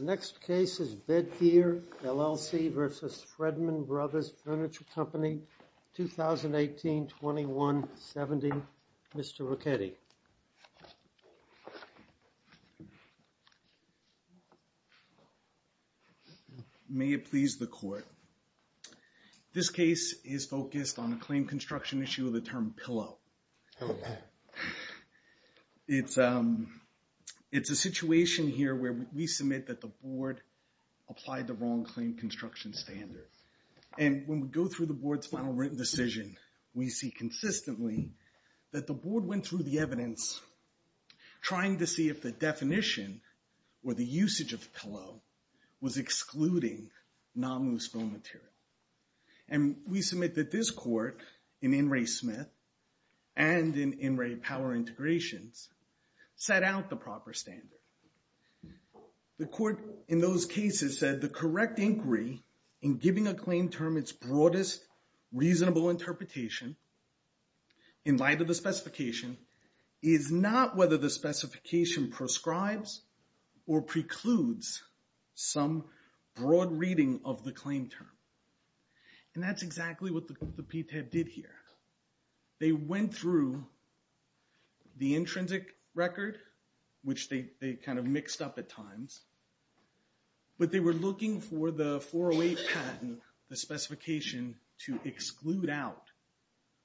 2018-21, LLC v. Fredman Bros. Furniture Co., 2018-21, LLC, LLC, LLC, LLC, LLC, LLC, LLC, LLC, LLC, May it please the court. This case is focused on a claim construction issue of the term pillow It's It's a situation here where we submit that the board applied the wrong claim construction standard And when we go through the board's final written decision, we see consistently that the board went through the evidence trying to see if the definition or the usage of pillow was excluding nominal spill material and We submit that this court in in Ray Smith and in in Ray power integrations Set out the proper standard The court in those cases said the correct inquiry in giving a claim term its broadest reasonable interpretation in light of the specification is not whether the specification prescribes or precludes some broad reading of the claim term And that's exactly what the PTA did here They went through The intrinsic record which they kind of mixed up at times But they were looking for the 408 patent the specification to exclude out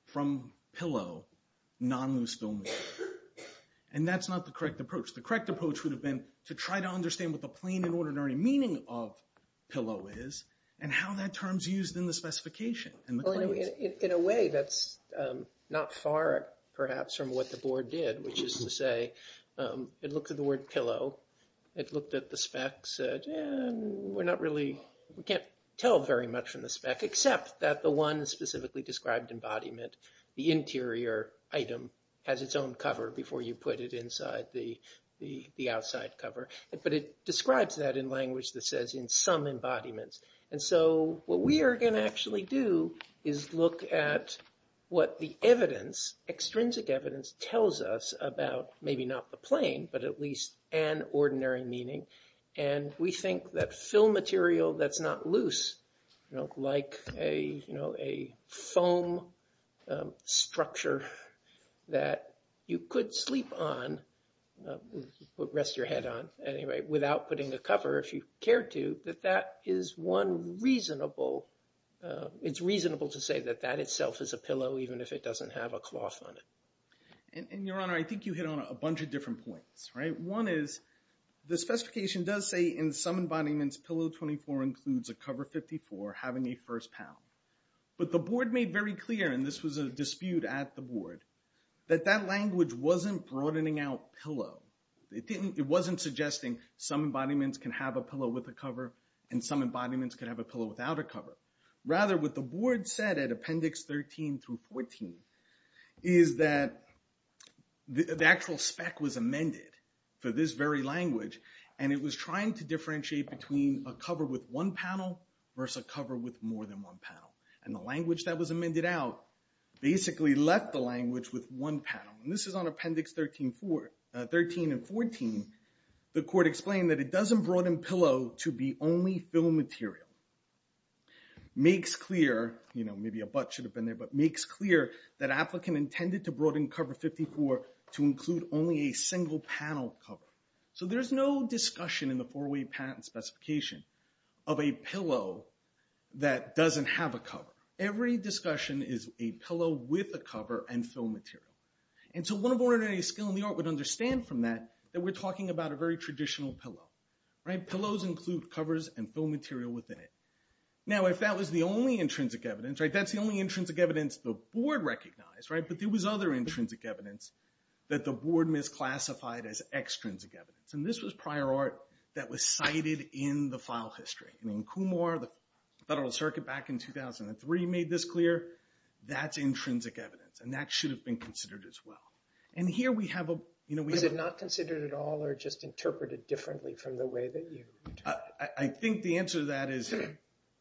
from pillow non loose film and that's not the correct approach the correct approach would have been to try to understand what the plain and ordinary meaning of Pillow is and how that terms used in the specification and the claim in a way that's Not far perhaps from what the board did which is to say It looked at the word pillow. It looked at the spec said We're not really we can't tell very much from the spec except that the one specifically described embodiment the interior Item has its own cover before you put it inside the the the outside cover But it describes that in language that says in some embodiments And so what we are going to actually do is look at What the evidence Extrinsic evidence tells us about maybe not the plane But at least an ordinary meaning and we think that film material that's not loose You know like a you know a foam Structure that you could sleep on Rest your head on anyway without putting a cover if you cared to that that is one reasonable It's reasonable to say that that itself is a pillow even if it doesn't have a cloth on it And your honor, I think you hit on a bunch of different points, right? One is the specification does say in some embodiments pillow 24 includes a cover 54 having a first pound But the board made very clear and this was a dispute at the board that that language wasn't broadening out pillow It didn't it wasn't suggesting Some embodiments can have a pillow with a cover and some embodiments could have a pillow without a cover rather with the board said at appendix 13 through 14 is that The actual spec was amended for this very language And it was trying to differentiate between a cover with one panel Versus a cover with more than one panel and the language that was amended out Basically left the language with one panel and this is on appendix 13 for 13 and 14 The court explained that it doesn't broaden pillow to be only fill material Makes clear, you know Maybe a butt should have been there but makes clear that Applicant intended to broaden cover 54 to include only a single panel cover So there's no discussion in the four-way patent specification of a pillow That doesn't have a cover Every discussion is a pillow with a cover and fill material And so one of ordinary skill in the art would understand from that that we're talking about a very traditional pillow Right pillows include covers and fill material within it. Now if that was the only intrinsic evidence, right? That's the only intrinsic evidence the board recognized, right? But there was other intrinsic evidence that the board misclassified as extrinsic evidence And this was prior art that was cited in the file history I mean Kumar the Federal Circuit back in 2003 made this clear That's intrinsic evidence and that should have been considered as well and here we have a you know We did not consider it at all or just interpreted differently from the way that you I think the answer to that is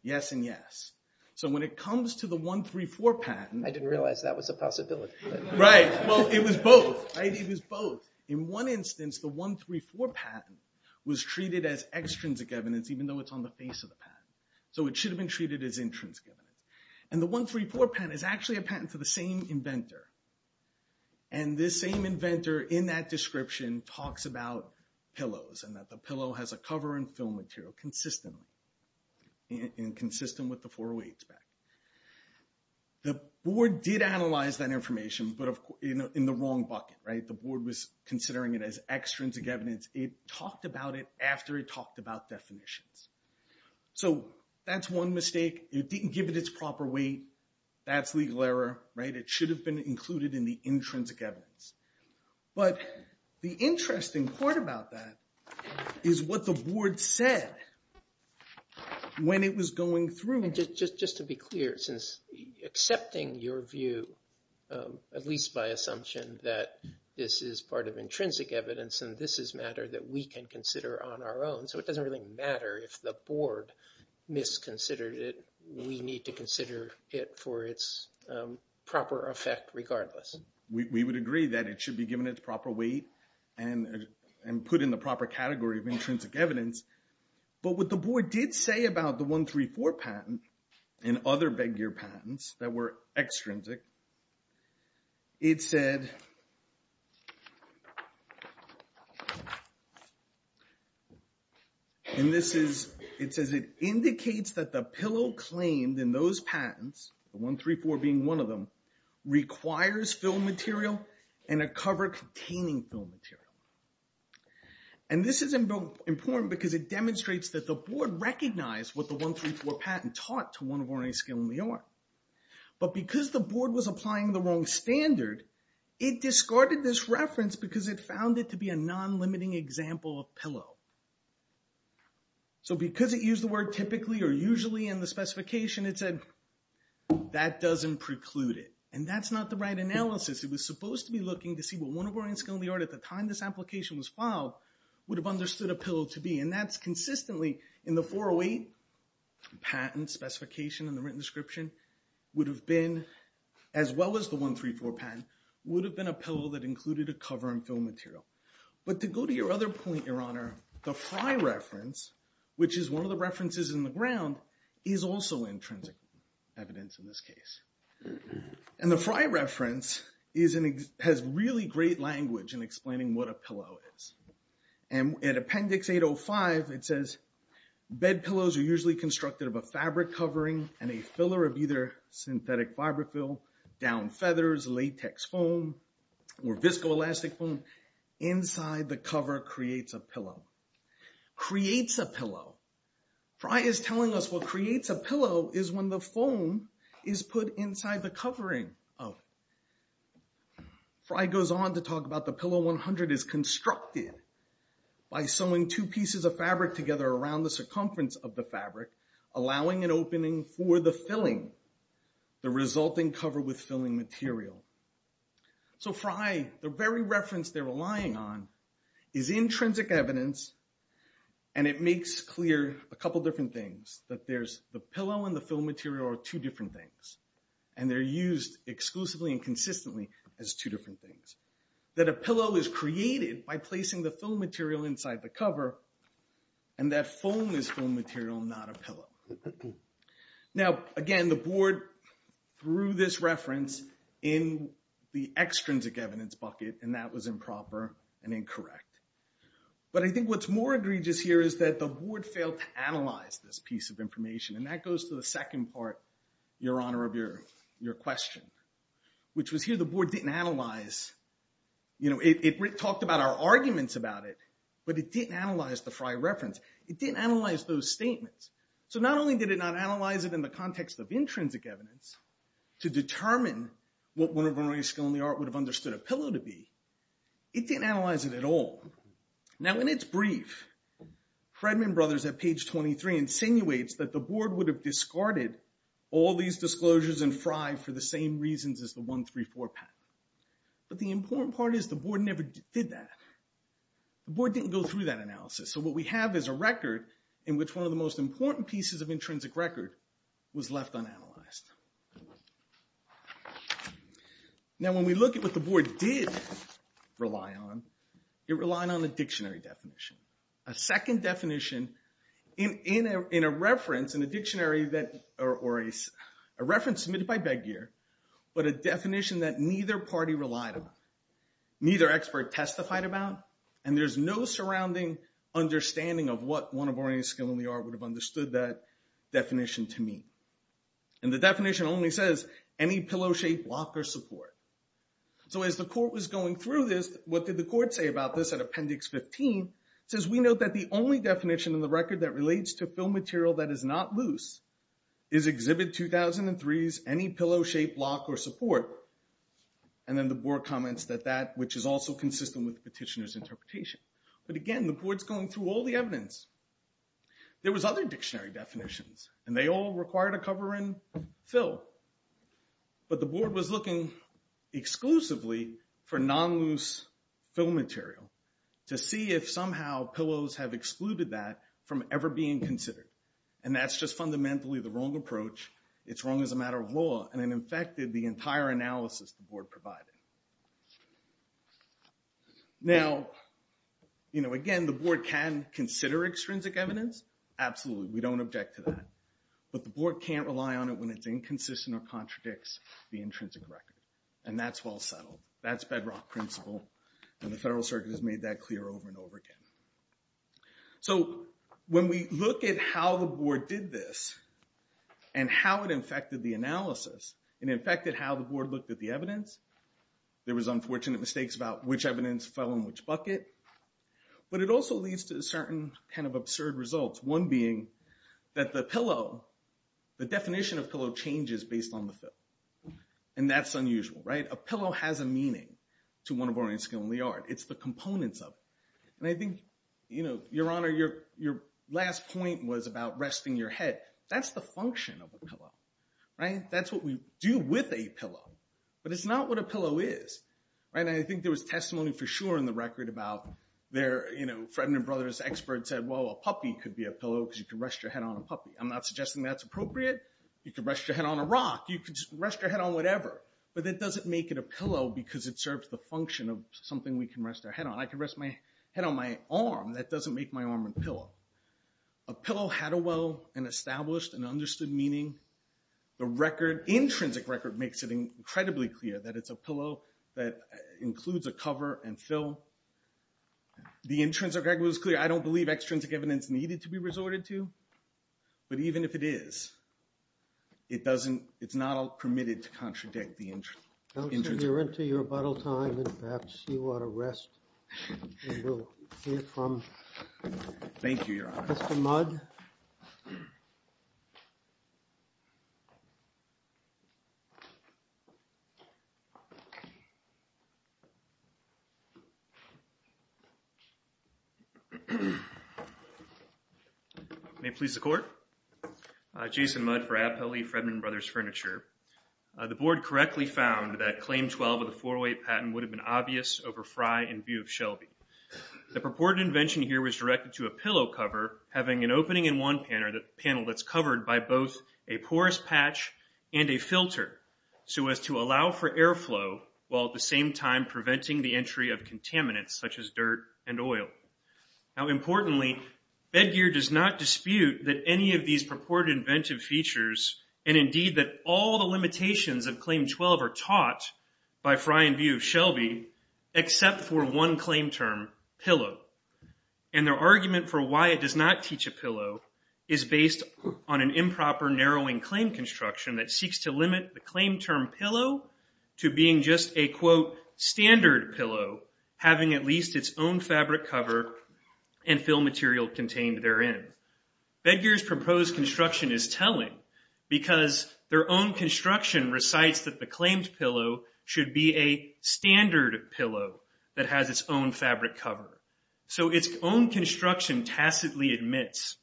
Yes, and yes, so when it comes to the 134 patent, I didn't realize that was a possibility, right? Well, it was both it was both in one instance The 134 patent was treated as extrinsic evidence, even though it's on the face of the patent So it should have been treated as intrinsic evidence and the 134 patent is actually a patent to the same inventor and This same inventor in that description talks about pillows and that the pillow has a cover and fill material consistently in consistent with the 408 spec The board did analyze that information But of course in the wrong bucket right the board was considering it as extrinsic evidence It talked about it after it talked about definitions So that's one mistake it didn't give it its proper weight that's legal error, right? It should have been included in the intrinsic evidence But the interesting part about that is what the board said When it was going through and just just just to be clear since accepting your view At least by assumption that this is part of intrinsic evidence and this is matter that we can consider on our own So it doesn't really matter if the board Misconsidered it. We need to consider it for its proper effect regardless we would agree that it should be given its proper weight and And put in the proper category of intrinsic evidence But what the board did say about the 134 patent and other bedgear patents that were extrinsic it said And this is it says it indicates that the pillow claimed in those patents the 134 being one of them requires film material and a cover containing film material and This is important because it demonstrates that the board recognized what the 134 patent taught to one of our any skill in the art But because the board was applying the wrong standard it Discarded this reference because it found it to be a non-limiting example of pillow So because it used the word typically or usually in the specification it said That doesn't preclude it and that's not the right analysis It was supposed to be looking to see what one of our in skill in the art at the time This application was filed would have understood a pillow to be and that's consistently in the 408 patent specification and the written description Would have been as well as the 134 patent would have been a pillow that included a cover and film material But to go to your other point your honor the Frey reference Which is one of the references in the ground is also intrinsic evidence in this case and the Frey reference is an has really great language in explaining what a pillow is and at appendix 805 it says Bed pillows are usually constructed of a fabric covering and a filler of either synthetic fiberfill down feathers latex foam Or viscoelastic foam inside the cover creates a pillow Creates a pillow Frye is telling us what creates a pillow is when the foam is put inside the covering of Frye goes on to talk about the pillow 100 is constructed By sewing two pieces of fabric together around the circumference of the fabric allowing an opening for the filling the resulting cover with filling material So Frye the very reference they're relying on is intrinsic evidence and it makes clear a couple different things that there's the pillow and the film material are two different things and They're used exclusively and consistently as two different things that a pillow is created by placing the film material inside the cover and That foam is film material not a pillow now again the board Threw this reference in The extrinsic evidence bucket and that was improper and incorrect But I think what's more egregious here is that the board failed to analyze this piece of information and that goes to the second part Your honor of your your question Which was here the board didn't analyze You know it talked about our arguments about it, but it didn't analyze the Frey reference It didn't analyze those statements. So not only did it not analyze it in the context of intrinsic evidence To determine what one of our a skill in the art would have understood a pillow to be it didn't analyze it at all Now when it's brief Fredman brothers at page 23 insinuates that the board would have discarded all these disclosures and Frye for the same reasons as the one three four pat But the important part is the board never did that The board didn't go through that analysis So what we have is a record in which one of the most important pieces of intrinsic record was left unanalyzed now When we look at what the board did Rely on it relying on the dictionary definition a second definition in In a reference in a dictionary that or a reference submitted by beg gear But a definition that neither party relied on Neither expert testified about and there's no surrounding understanding of what one of our any skill in the art would have understood that definition to me and The definition only says any pillow-shaped blocker support So as the court was going through this what did the court say about this at appendix 15? Says we note that the only definition in the record that relates to film material that is not loose is exhibit 2003's any pillow-shaped block or support and Then the board comments that that which is also consistent with petitioners interpretation, but again the boards going through all the evidence There was other dictionary definitions, and they all require to cover in fill But the board was looking exclusively for non-loose film material to see if somehow pillows have excluded that from ever being considered and that's just Fundamentally the wrong approach. It's wrong as a matter of law and it infected the entire analysis the board provided Now You know again the board can consider extrinsic evidence Absolutely, we don't object to that But the board can't rely on it when it's inconsistent or contradicts the intrinsic record and that's well settled That's bedrock principle and the Federal Circuit has made that clear over and over again so when we look at how the board did this and How it infected the analysis and infected how the board looked at the evidence? There was unfortunate mistakes about which evidence fell in which bucket But it also leads to a certain kind of absurd results one being that the pillow the definition of pillow changes based on the film and That's unusual right a pillow has a meaning to one of our own skill in the art It's the components of and I think you know your honor your your last point was about resting your head That's the function of the pillow right that's what we do with a pillow But it's not what a pillow is and I think there was testimony for sure in the record about there You know Fredman brothers expert said well a puppy could be a pillow because you can rest your head on a puppy I'm not suggesting that's appropriate you can rest your head on a rock you could rest your head on whatever But that doesn't make it a pillow because it serves the function of something we can rest our head on I can rest my head on my arm that doesn't make my arm and pillow a pillow had a well and established and understood meaning The record intrinsic record makes it incredibly clear that it's a pillow that includes a cover and fill The intrinsic record was clear. I don't believe extrinsic evidence needed to be resorted to but even if it is It doesn't it's not all permitted to contradict the engine. You're into your bottle time and perhaps you want to rest Thank you your honor You May please the court Jason Mudd for a pulley Fredman brothers furniture The board correctly found that claim 12 of the four-way patent would have been obvious over fry and view of Shelby The purported invention here was directed to a pillow cover having an opening in one pan or the panel that's covered by both a porous patch and a filter so as to allow for airflow while at the same time preventing the Entry of contaminants such as dirt and oil now importantly bed gear does not dispute that any of these purported inventive features and indeed that all the limitations of claim 12 are taught by fry and view Shelby except for one claim term pillow and Argument for why it does not teach a pillow is based on an improper narrowing claim Construction that seeks to limit the claim term pillow to being just a quote standard pillow having at least its own fabric cover and fill material contained therein bed gears proposed construction is telling because their own construction recites that the claims pillow should be a Standard pillow that has its own fabric cover. So its own construction tacitly admits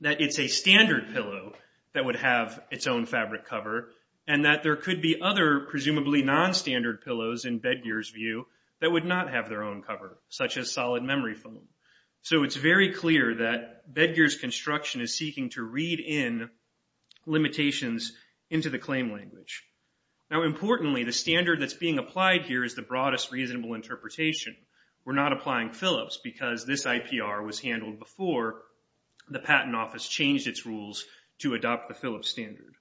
That it's a standard pillow that would have its own fabric cover and that there could be other Presumably non-standard pillows in bed gears view that would not have their own cover such as solid memory foam So it's very clear that bed gears construction is seeking to read in Limitations into the claim language now importantly the standard that's being applied here is the broadest reasonable interpretation We're not applying Phillips because this IPR was handled before The Patent Office changed its rules to adopt the Phillips standard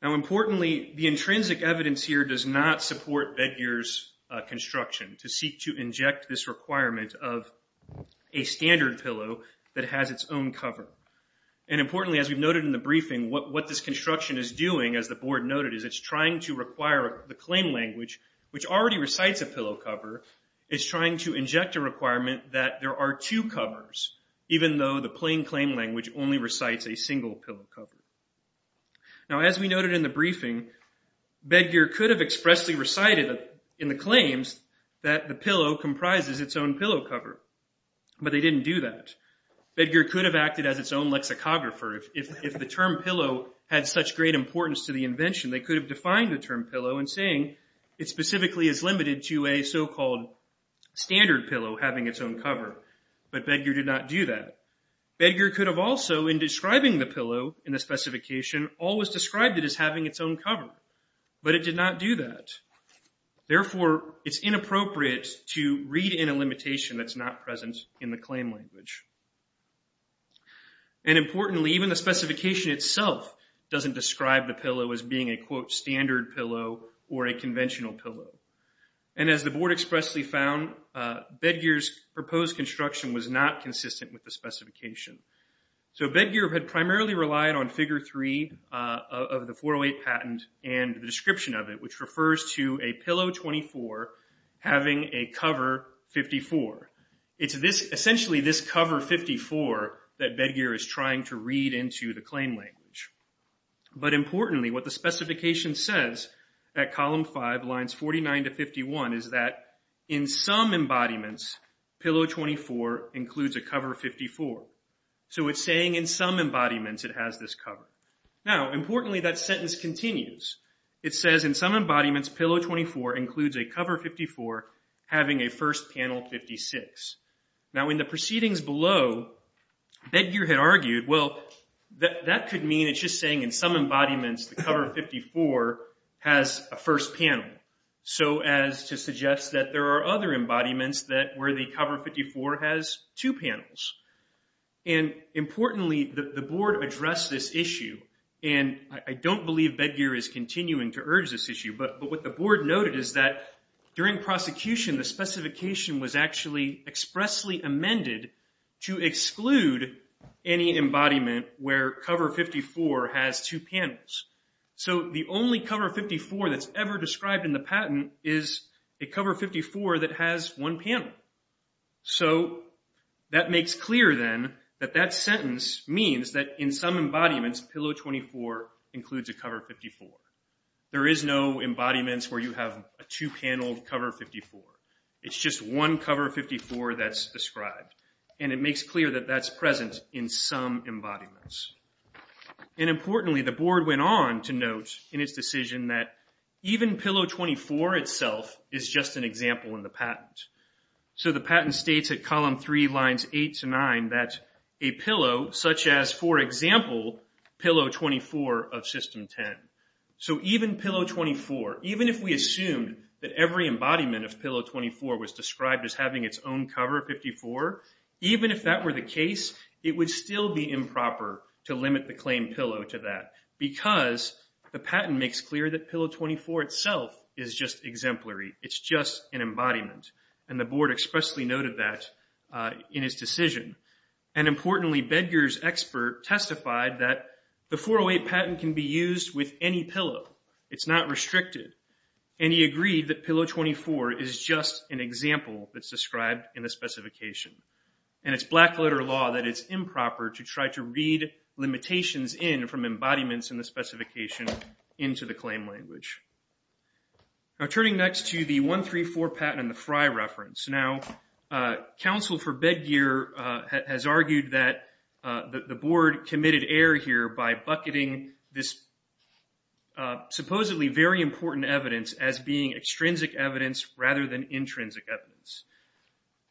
Now importantly the intrinsic evidence here does not support bed gears construction to seek to inject this requirement of a standard pillow that has its own cover and What this construction is doing as the board noted is it's trying to require the claim language which already recites a pillow cover It's trying to inject a requirement that there are two covers even though the plain claim language only recites a single pillow cover Now as we noted in the briefing Bed gear could have expressly recited in the claims that the pillow comprises its own pillow cover But they didn't do that Edgar could have acted as its own lexicographer if the term pillow had such great importance to the invention They could have defined the term pillow and saying it specifically is limited to a so-called Standard pillow having its own cover, but beggar did not do that Edgar could have also in describing the pillow in the specification always described it as having its own cover, but it did not do that Therefore it's inappropriate to read in a limitation. That's not present in the claim language and Importantly even the specification itself Doesn't describe the pillow as being a quote standard pillow or a conventional pillow and as the board expressly found Bed gears proposed construction was not consistent with the specification So bed gear had primarily relied on figure three Of the 408 patent and the description of it which refers to a pillow 24 Having a cover 54 it's this essentially this cover 54 that bed gear is trying to read into the claim language but importantly what the specification says that column 5 lines 49 to 51 is that in some Embodiments pillow 24 includes a cover 54. So it's saying in some embodiments It has this cover now importantly that sentence continues It says in some embodiments pillow 24 includes a cover 54 having a first panel 56 now in the proceedings below That gear had argued well that that could mean it's just saying in some embodiments the cover 54 has a first panel so as to suggest that there are other embodiments that where the cover 54 has two panels and Importantly the board addressed this issue, and I don't believe bed gear is continuing to urge this issue But but what the board noted is that during prosecution the specification was actually expressly amended to exclude Any embodiment where cover 54 has two panels? So the only cover 54 that's ever described in the patent is a cover 54 that has one panel so That makes clear then that that sentence means that in some embodiments pillow 24 includes a cover 54 There is no embodiments where you have a two paneled cover 54 It's just one cover 54 that's described, and it makes clear that that's present in some embodiments And importantly the board went on to note in its decision that even pillow 24 itself is just an example in the patent So the patent states at column 3 lines 8 to 9 that a pillow such as for example pillow 24 of system 10 So even pillow 24 even if we assumed that every embodiment of pillow 24 was described as having its own cover 54 Even if that were the case it would still be improper to limit the claim pillow to that Because the patent makes clear that pillow 24 itself is just exemplary It's just an embodiment and the board expressly noted that in his decision and Importantly Bedgar's expert testified that the 408 patent can be used with any pillow It's not restricted, and he agreed that pillow 24 is just an example That's described in the specification, and it's black letter law that it's improper to try to read limitations in from embodiments in the specification into the claim language Now turning next to the 134 patent and the Frye reference now counsel for bedgear has argued that the board committed error here by bucketing this Supposedly very important evidence as being extrinsic evidence rather than intrinsic evidence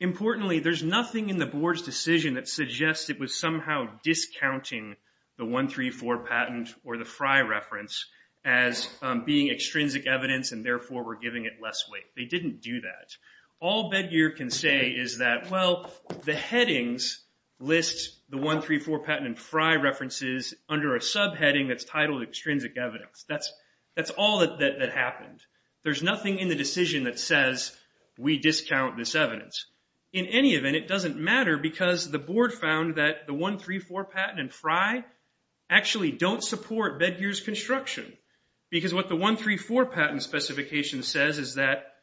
Importantly there's nothing in the board's decision that suggests it was somehow discounting the 134 patent or the Frye reference as Being extrinsic evidence and therefore we're giving it less weight They didn't do that all bedgear can say is that well the headings? Lists the 134 patent and Frye references under a subheading that's titled extrinsic evidence That's that's all that that happened There's nothing in the decision that says We discount this evidence in any event it doesn't matter because the board found that the 134 patent and Frye Actually don't support bedgears construction because what the 134 patent specification says is that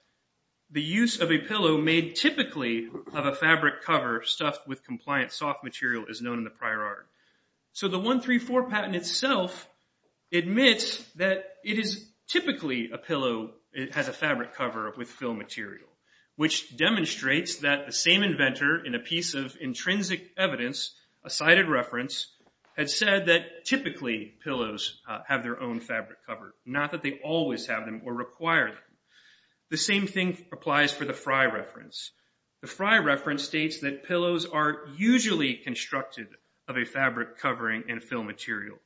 The use of a pillow made typically of a fabric cover stuffed with compliant soft material is known in the prior art so the 134 patent itself admits that it is typically a pillow it has a fabric cover with fill material which Demonstrates that the same inventor in a piece of intrinsic evidence a cited reference Had said that typically pillows have their own fabric cover not that they always have them or require The same thing applies for the Frye reference the Frye reference states that pillows are usually Constructed of a fabric covering and fill material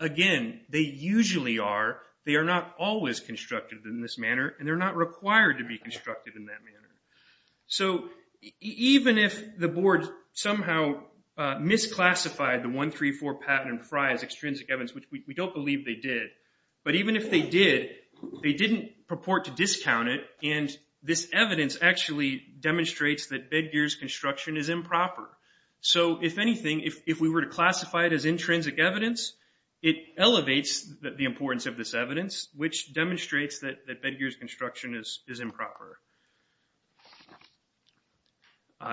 again They usually are they are not always constructed in this manner, and they're not required to be constructed in that manner so even if the board somehow Misclassified the 134 patent and Frye as extrinsic evidence, which we don't believe they did But even if they did they didn't purport to discount it and this evidence actually Demonstrates that bedgears construction is improper so if anything if we were to classify it as intrinsic evidence It elevates that the importance of this evidence which demonstrates that that bedgears construction is improper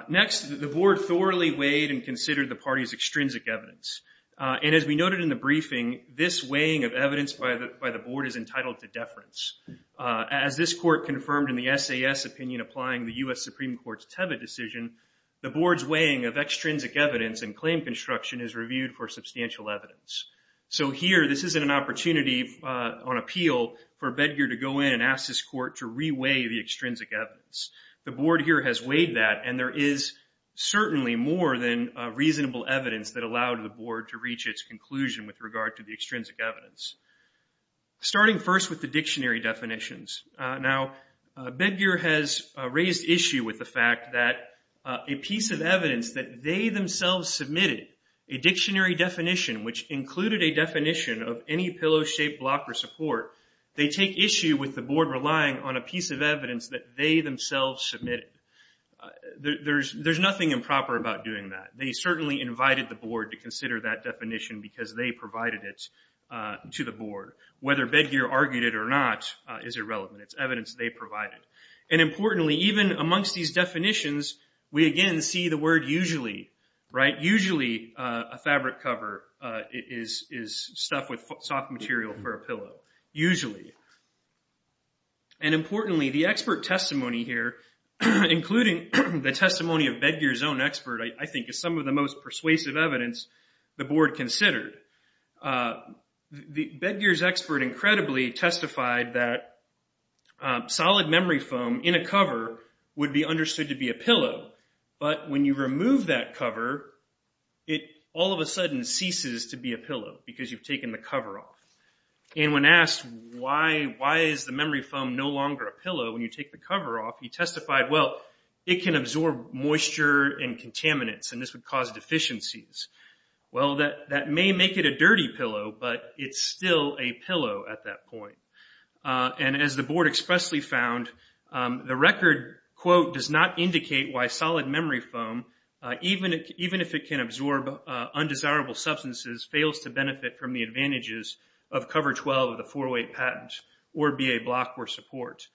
Next the board thoroughly weighed and considered the party's extrinsic evidence And as we noted in the briefing this weighing of evidence by the by the board is entitled to deference As this court confirmed in the SAS opinion applying the US Supreme Court's Tebbit decision The board's weighing of extrinsic evidence and claim construction is reviewed for substantial evidence So here this isn't an opportunity On appeal for bedgear to go in and ask this court to re-weigh the extrinsic evidence the board here has weighed that and there is Certainly more than reasonable evidence that allowed the board to reach its conclusion with regard to the extrinsic evidence starting first with the dictionary definitions now bedgear has raised issue with the fact that a piece of evidence that they themselves submitted a Blocker support they take issue with the board relying on a piece of evidence that they themselves submitted There's there's nothing improper about doing that they certainly invited the board to consider that definition because they provided it To the board whether bedgear argued it or not is irrelevant It's evidence they provided and importantly even amongst these definitions We again see the word usually right usually a fabric cover it is is stuff with soft material for a pillow usually and Importantly the expert testimony here Including the testimony of bedgears own expert. I think is some of the most persuasive evidence the board considered the bedgears expert incredibly testified that Solid memory foam in a cover would be understood to be a pillow, but when you remove that cover It all of a sudden ceases to be a pillow because you've taken the cover off And when asked why why is the memory foam no longer a pillow when you take the cover off you testified? Well, it can absorb moisture and contaminants and this would cause deficiencies Well that that may make it a dirty pillow, but it's still a pillow at that point And as the board expressly found The record quote does not indicate why solid memory foam Even even if it can absorb Undesirable substances fails to benefit from the advantages of cover 12 of the four-way patent or be a block or support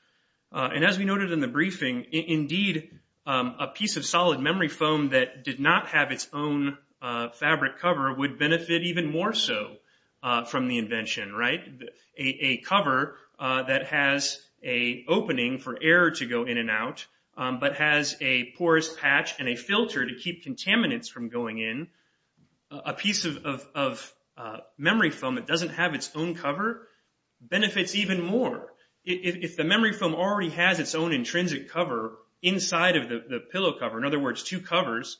And as we noted in the briefing indeed a piece of solid memory foam that did not have its own Fabric cover would benefit even more so from the invention right a cover that has a Porous patch and a filter to keep contaminants from going in a piece of Memory foam it doesn't have its own cover Benefits even more if the memory foam already has its own intrinsic cover inside of the pillow cover in other words two covers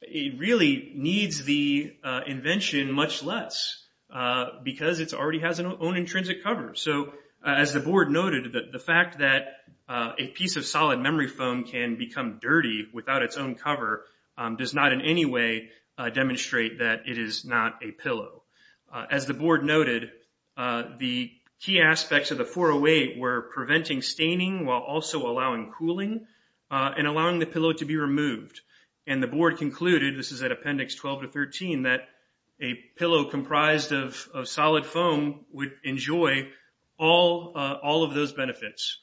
It really needs the invention much less Because it's already has an own intrinsic cover So as the board noted that the fact that a piece of solid memory foam can become dirty without its own cover Does not in any way? Demonstrate that it is not a pillow as the board noted The key aspects of the 408 were preventing staining while also allowing cooling and allowing the pillow to be removed and the board concluded this is at appendix 12 to 13 that a All all of those benefits,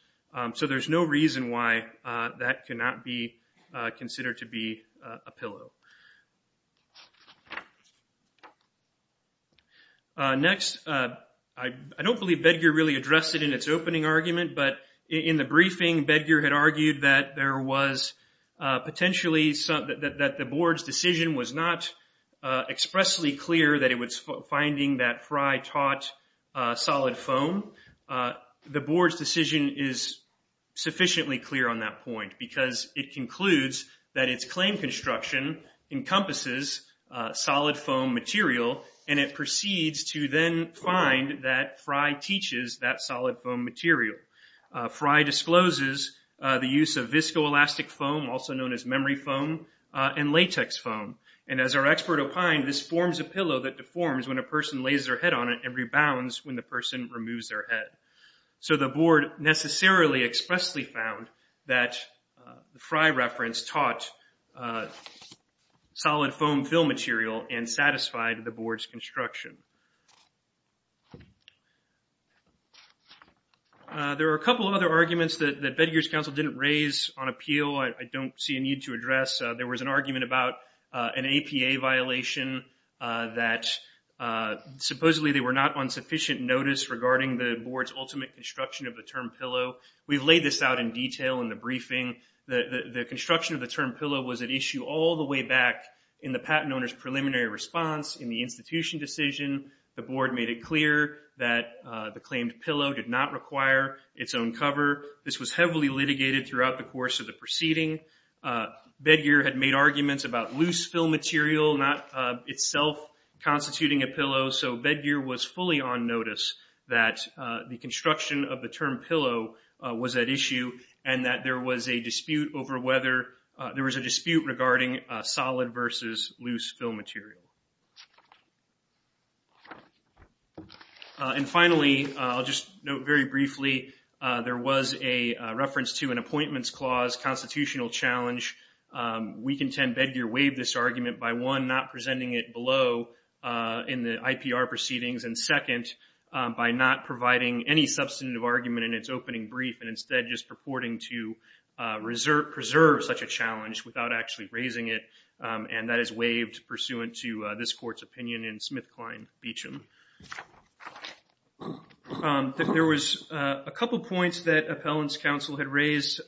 so there's no reason why that cannot be considered to be a pillow Next I don't believe that you're really addressed it in its opening argument, but in the briefing bed gear had argued that there was Potentially something that the board's decision was not Expressly clear that it was finding that fry taught Solid foam the board's decision is Sufficiently clear on that point because it concludes that its claim construction encompasses Solid foam material and it proceeds to then find that fry teaches that solid foam material Fry discloses the use of viscoelastic foam also known as memory foam And latex foam and as our expert opined this forms a pillow that deforms when a person lays their head on it and rebounds when The person removes their head so the board necessarily expressly found that the fry reference taught Solid foam fill material and satisfied the board's construction There are a couple of other arguments that the bed gears council didn't raise on appeal I don't see a need to address. There was an argument about an APA violation that Supposedly, they were not on sufficient notice regarding the board's ultimate construction of the term pillow We've laid this out in detail in the briefing The the construction of the term pillow was at issue all the way back in the patent owners preliminary response in the institution decision The board made it clear that the claimed pillow did not require its own cover This was heavily litigated throughout the course of the proceeding Bed gear had made arguments about loose fill material not itself Constituting a pillow so bed gear was fully on notice that the construction of the term pillow Was at issue and that there was a dispute over whether there was a dispute regarding solid versus loose fill material And Finally, I'll just note very briefly There was a reference to an appointments clause constitutional challenge We contend bed gear waived this argument by one not presenting it below in the IPR proceedings and second by not providing any substantive argument in its opening brief and instead just purporting to Reserve preserve such a challenge without actually raising it and that is waived pursuant to this court's opinion in Smith Klein Beecham There was a couple points that appellants counsel had raised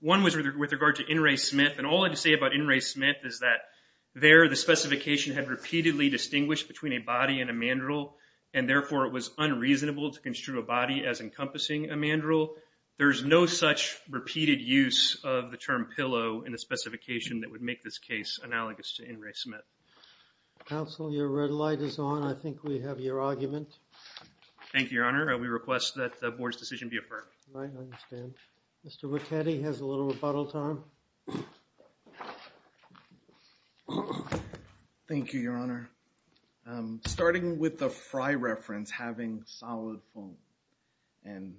One was with regard to in Ray Smith and all I can say about in Ray Smith is that? there the specification had repeatedly distinguished between a body and a mandrel and Therefore it was unreasonable to construe a body as encompassing a mandrel There's no such repeated use of the term pillow in a specification that would make this case analogous to in Ray Smith Counsel your red light is on. I think we have your argument Thank you, your honor. We request that the board's decision be affirmed Mr. McKinney has a little rebuttal time Thank you your honor starting with the fry reference having solid foam and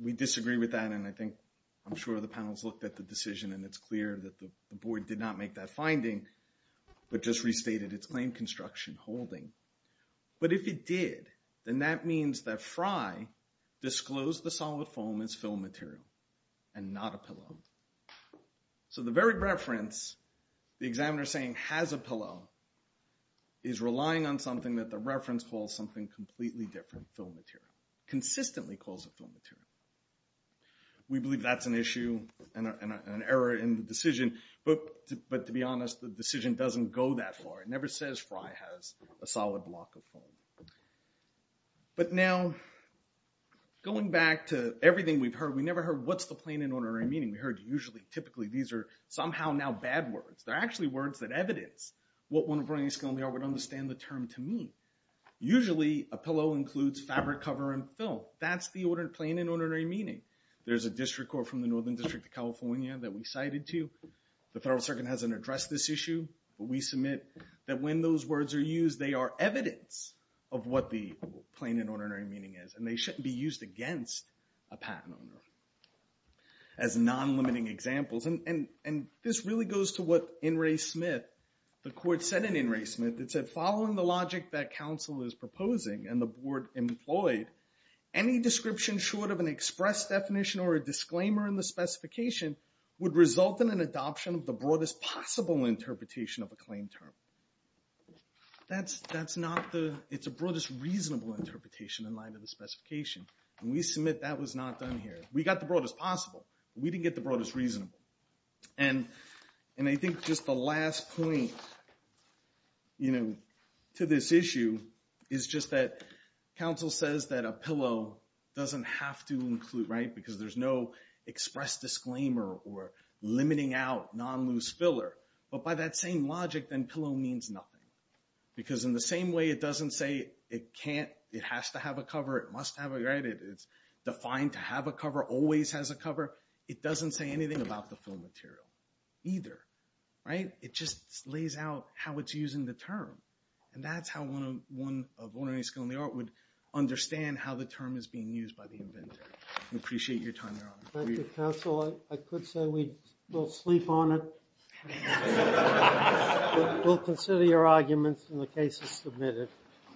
We disagree with that and I think I'm sure the panels looked at the decision and it's clear that the board did not make that finding But just restated its claim construction holding But if it did then that means that fry Disclosed the solid foam as film material and not a pillow so the very reference the examiner saying has a pillow is Relying on something that the reference calls something completely different film material consistently calls a film material We believe that's an issue and an error in the decision But but to be honest the decision doesn't go that far. It never says fry has a solid block of foam but now Going back to everything we've heard we never heard. What's the plain and ordinary meaning? We heard usually typically these are somehow now bad words They're actually words that evidence what one of our a skill they are would understand the term to me Usually a pillow includes fabric cover and film. That's the order to plain and ordinary meaning There's a district court from the Northern District of California that we cited to the federal circuit hasn't addressed this issue we submit that when those words are used they are evidence of what the plain and ordinary meaning is and they shouldn't be used against a patent owner as Non-limiting examples and and and this really goes to what in Ray Smith the court said in in Ray Smith It said following the logic that counsel is proposing and the board employed Any description short of an express definition or a disclaimer in the specification? Would result in an adoption of the broadest possible interpretation of a claim term That's that's not the it's a broadest reasonable interpretation in line to the specification And we submit that was not done here. We got the broadest possible. We didn't get the broadest reasonable and And I think just the last point You know to this issue is just that counsel says that a pillow doesn't have to include right because there's no express disclaimer or Limiting out non-loose filler but by that same logic then pillow means nothing Because in the same way it doesn't say it can't it has to have a cover it must have a graded It's defined to have a cover always has a cover. It doesn't say anything about the film material either Right, it just lays out how it's using the term and that's how one of one of one or any skill in the art would Understand how the term is being used by the inventor. We appreciate your time I could say we don't sleep on it We'll consider your arguments in the cases submitted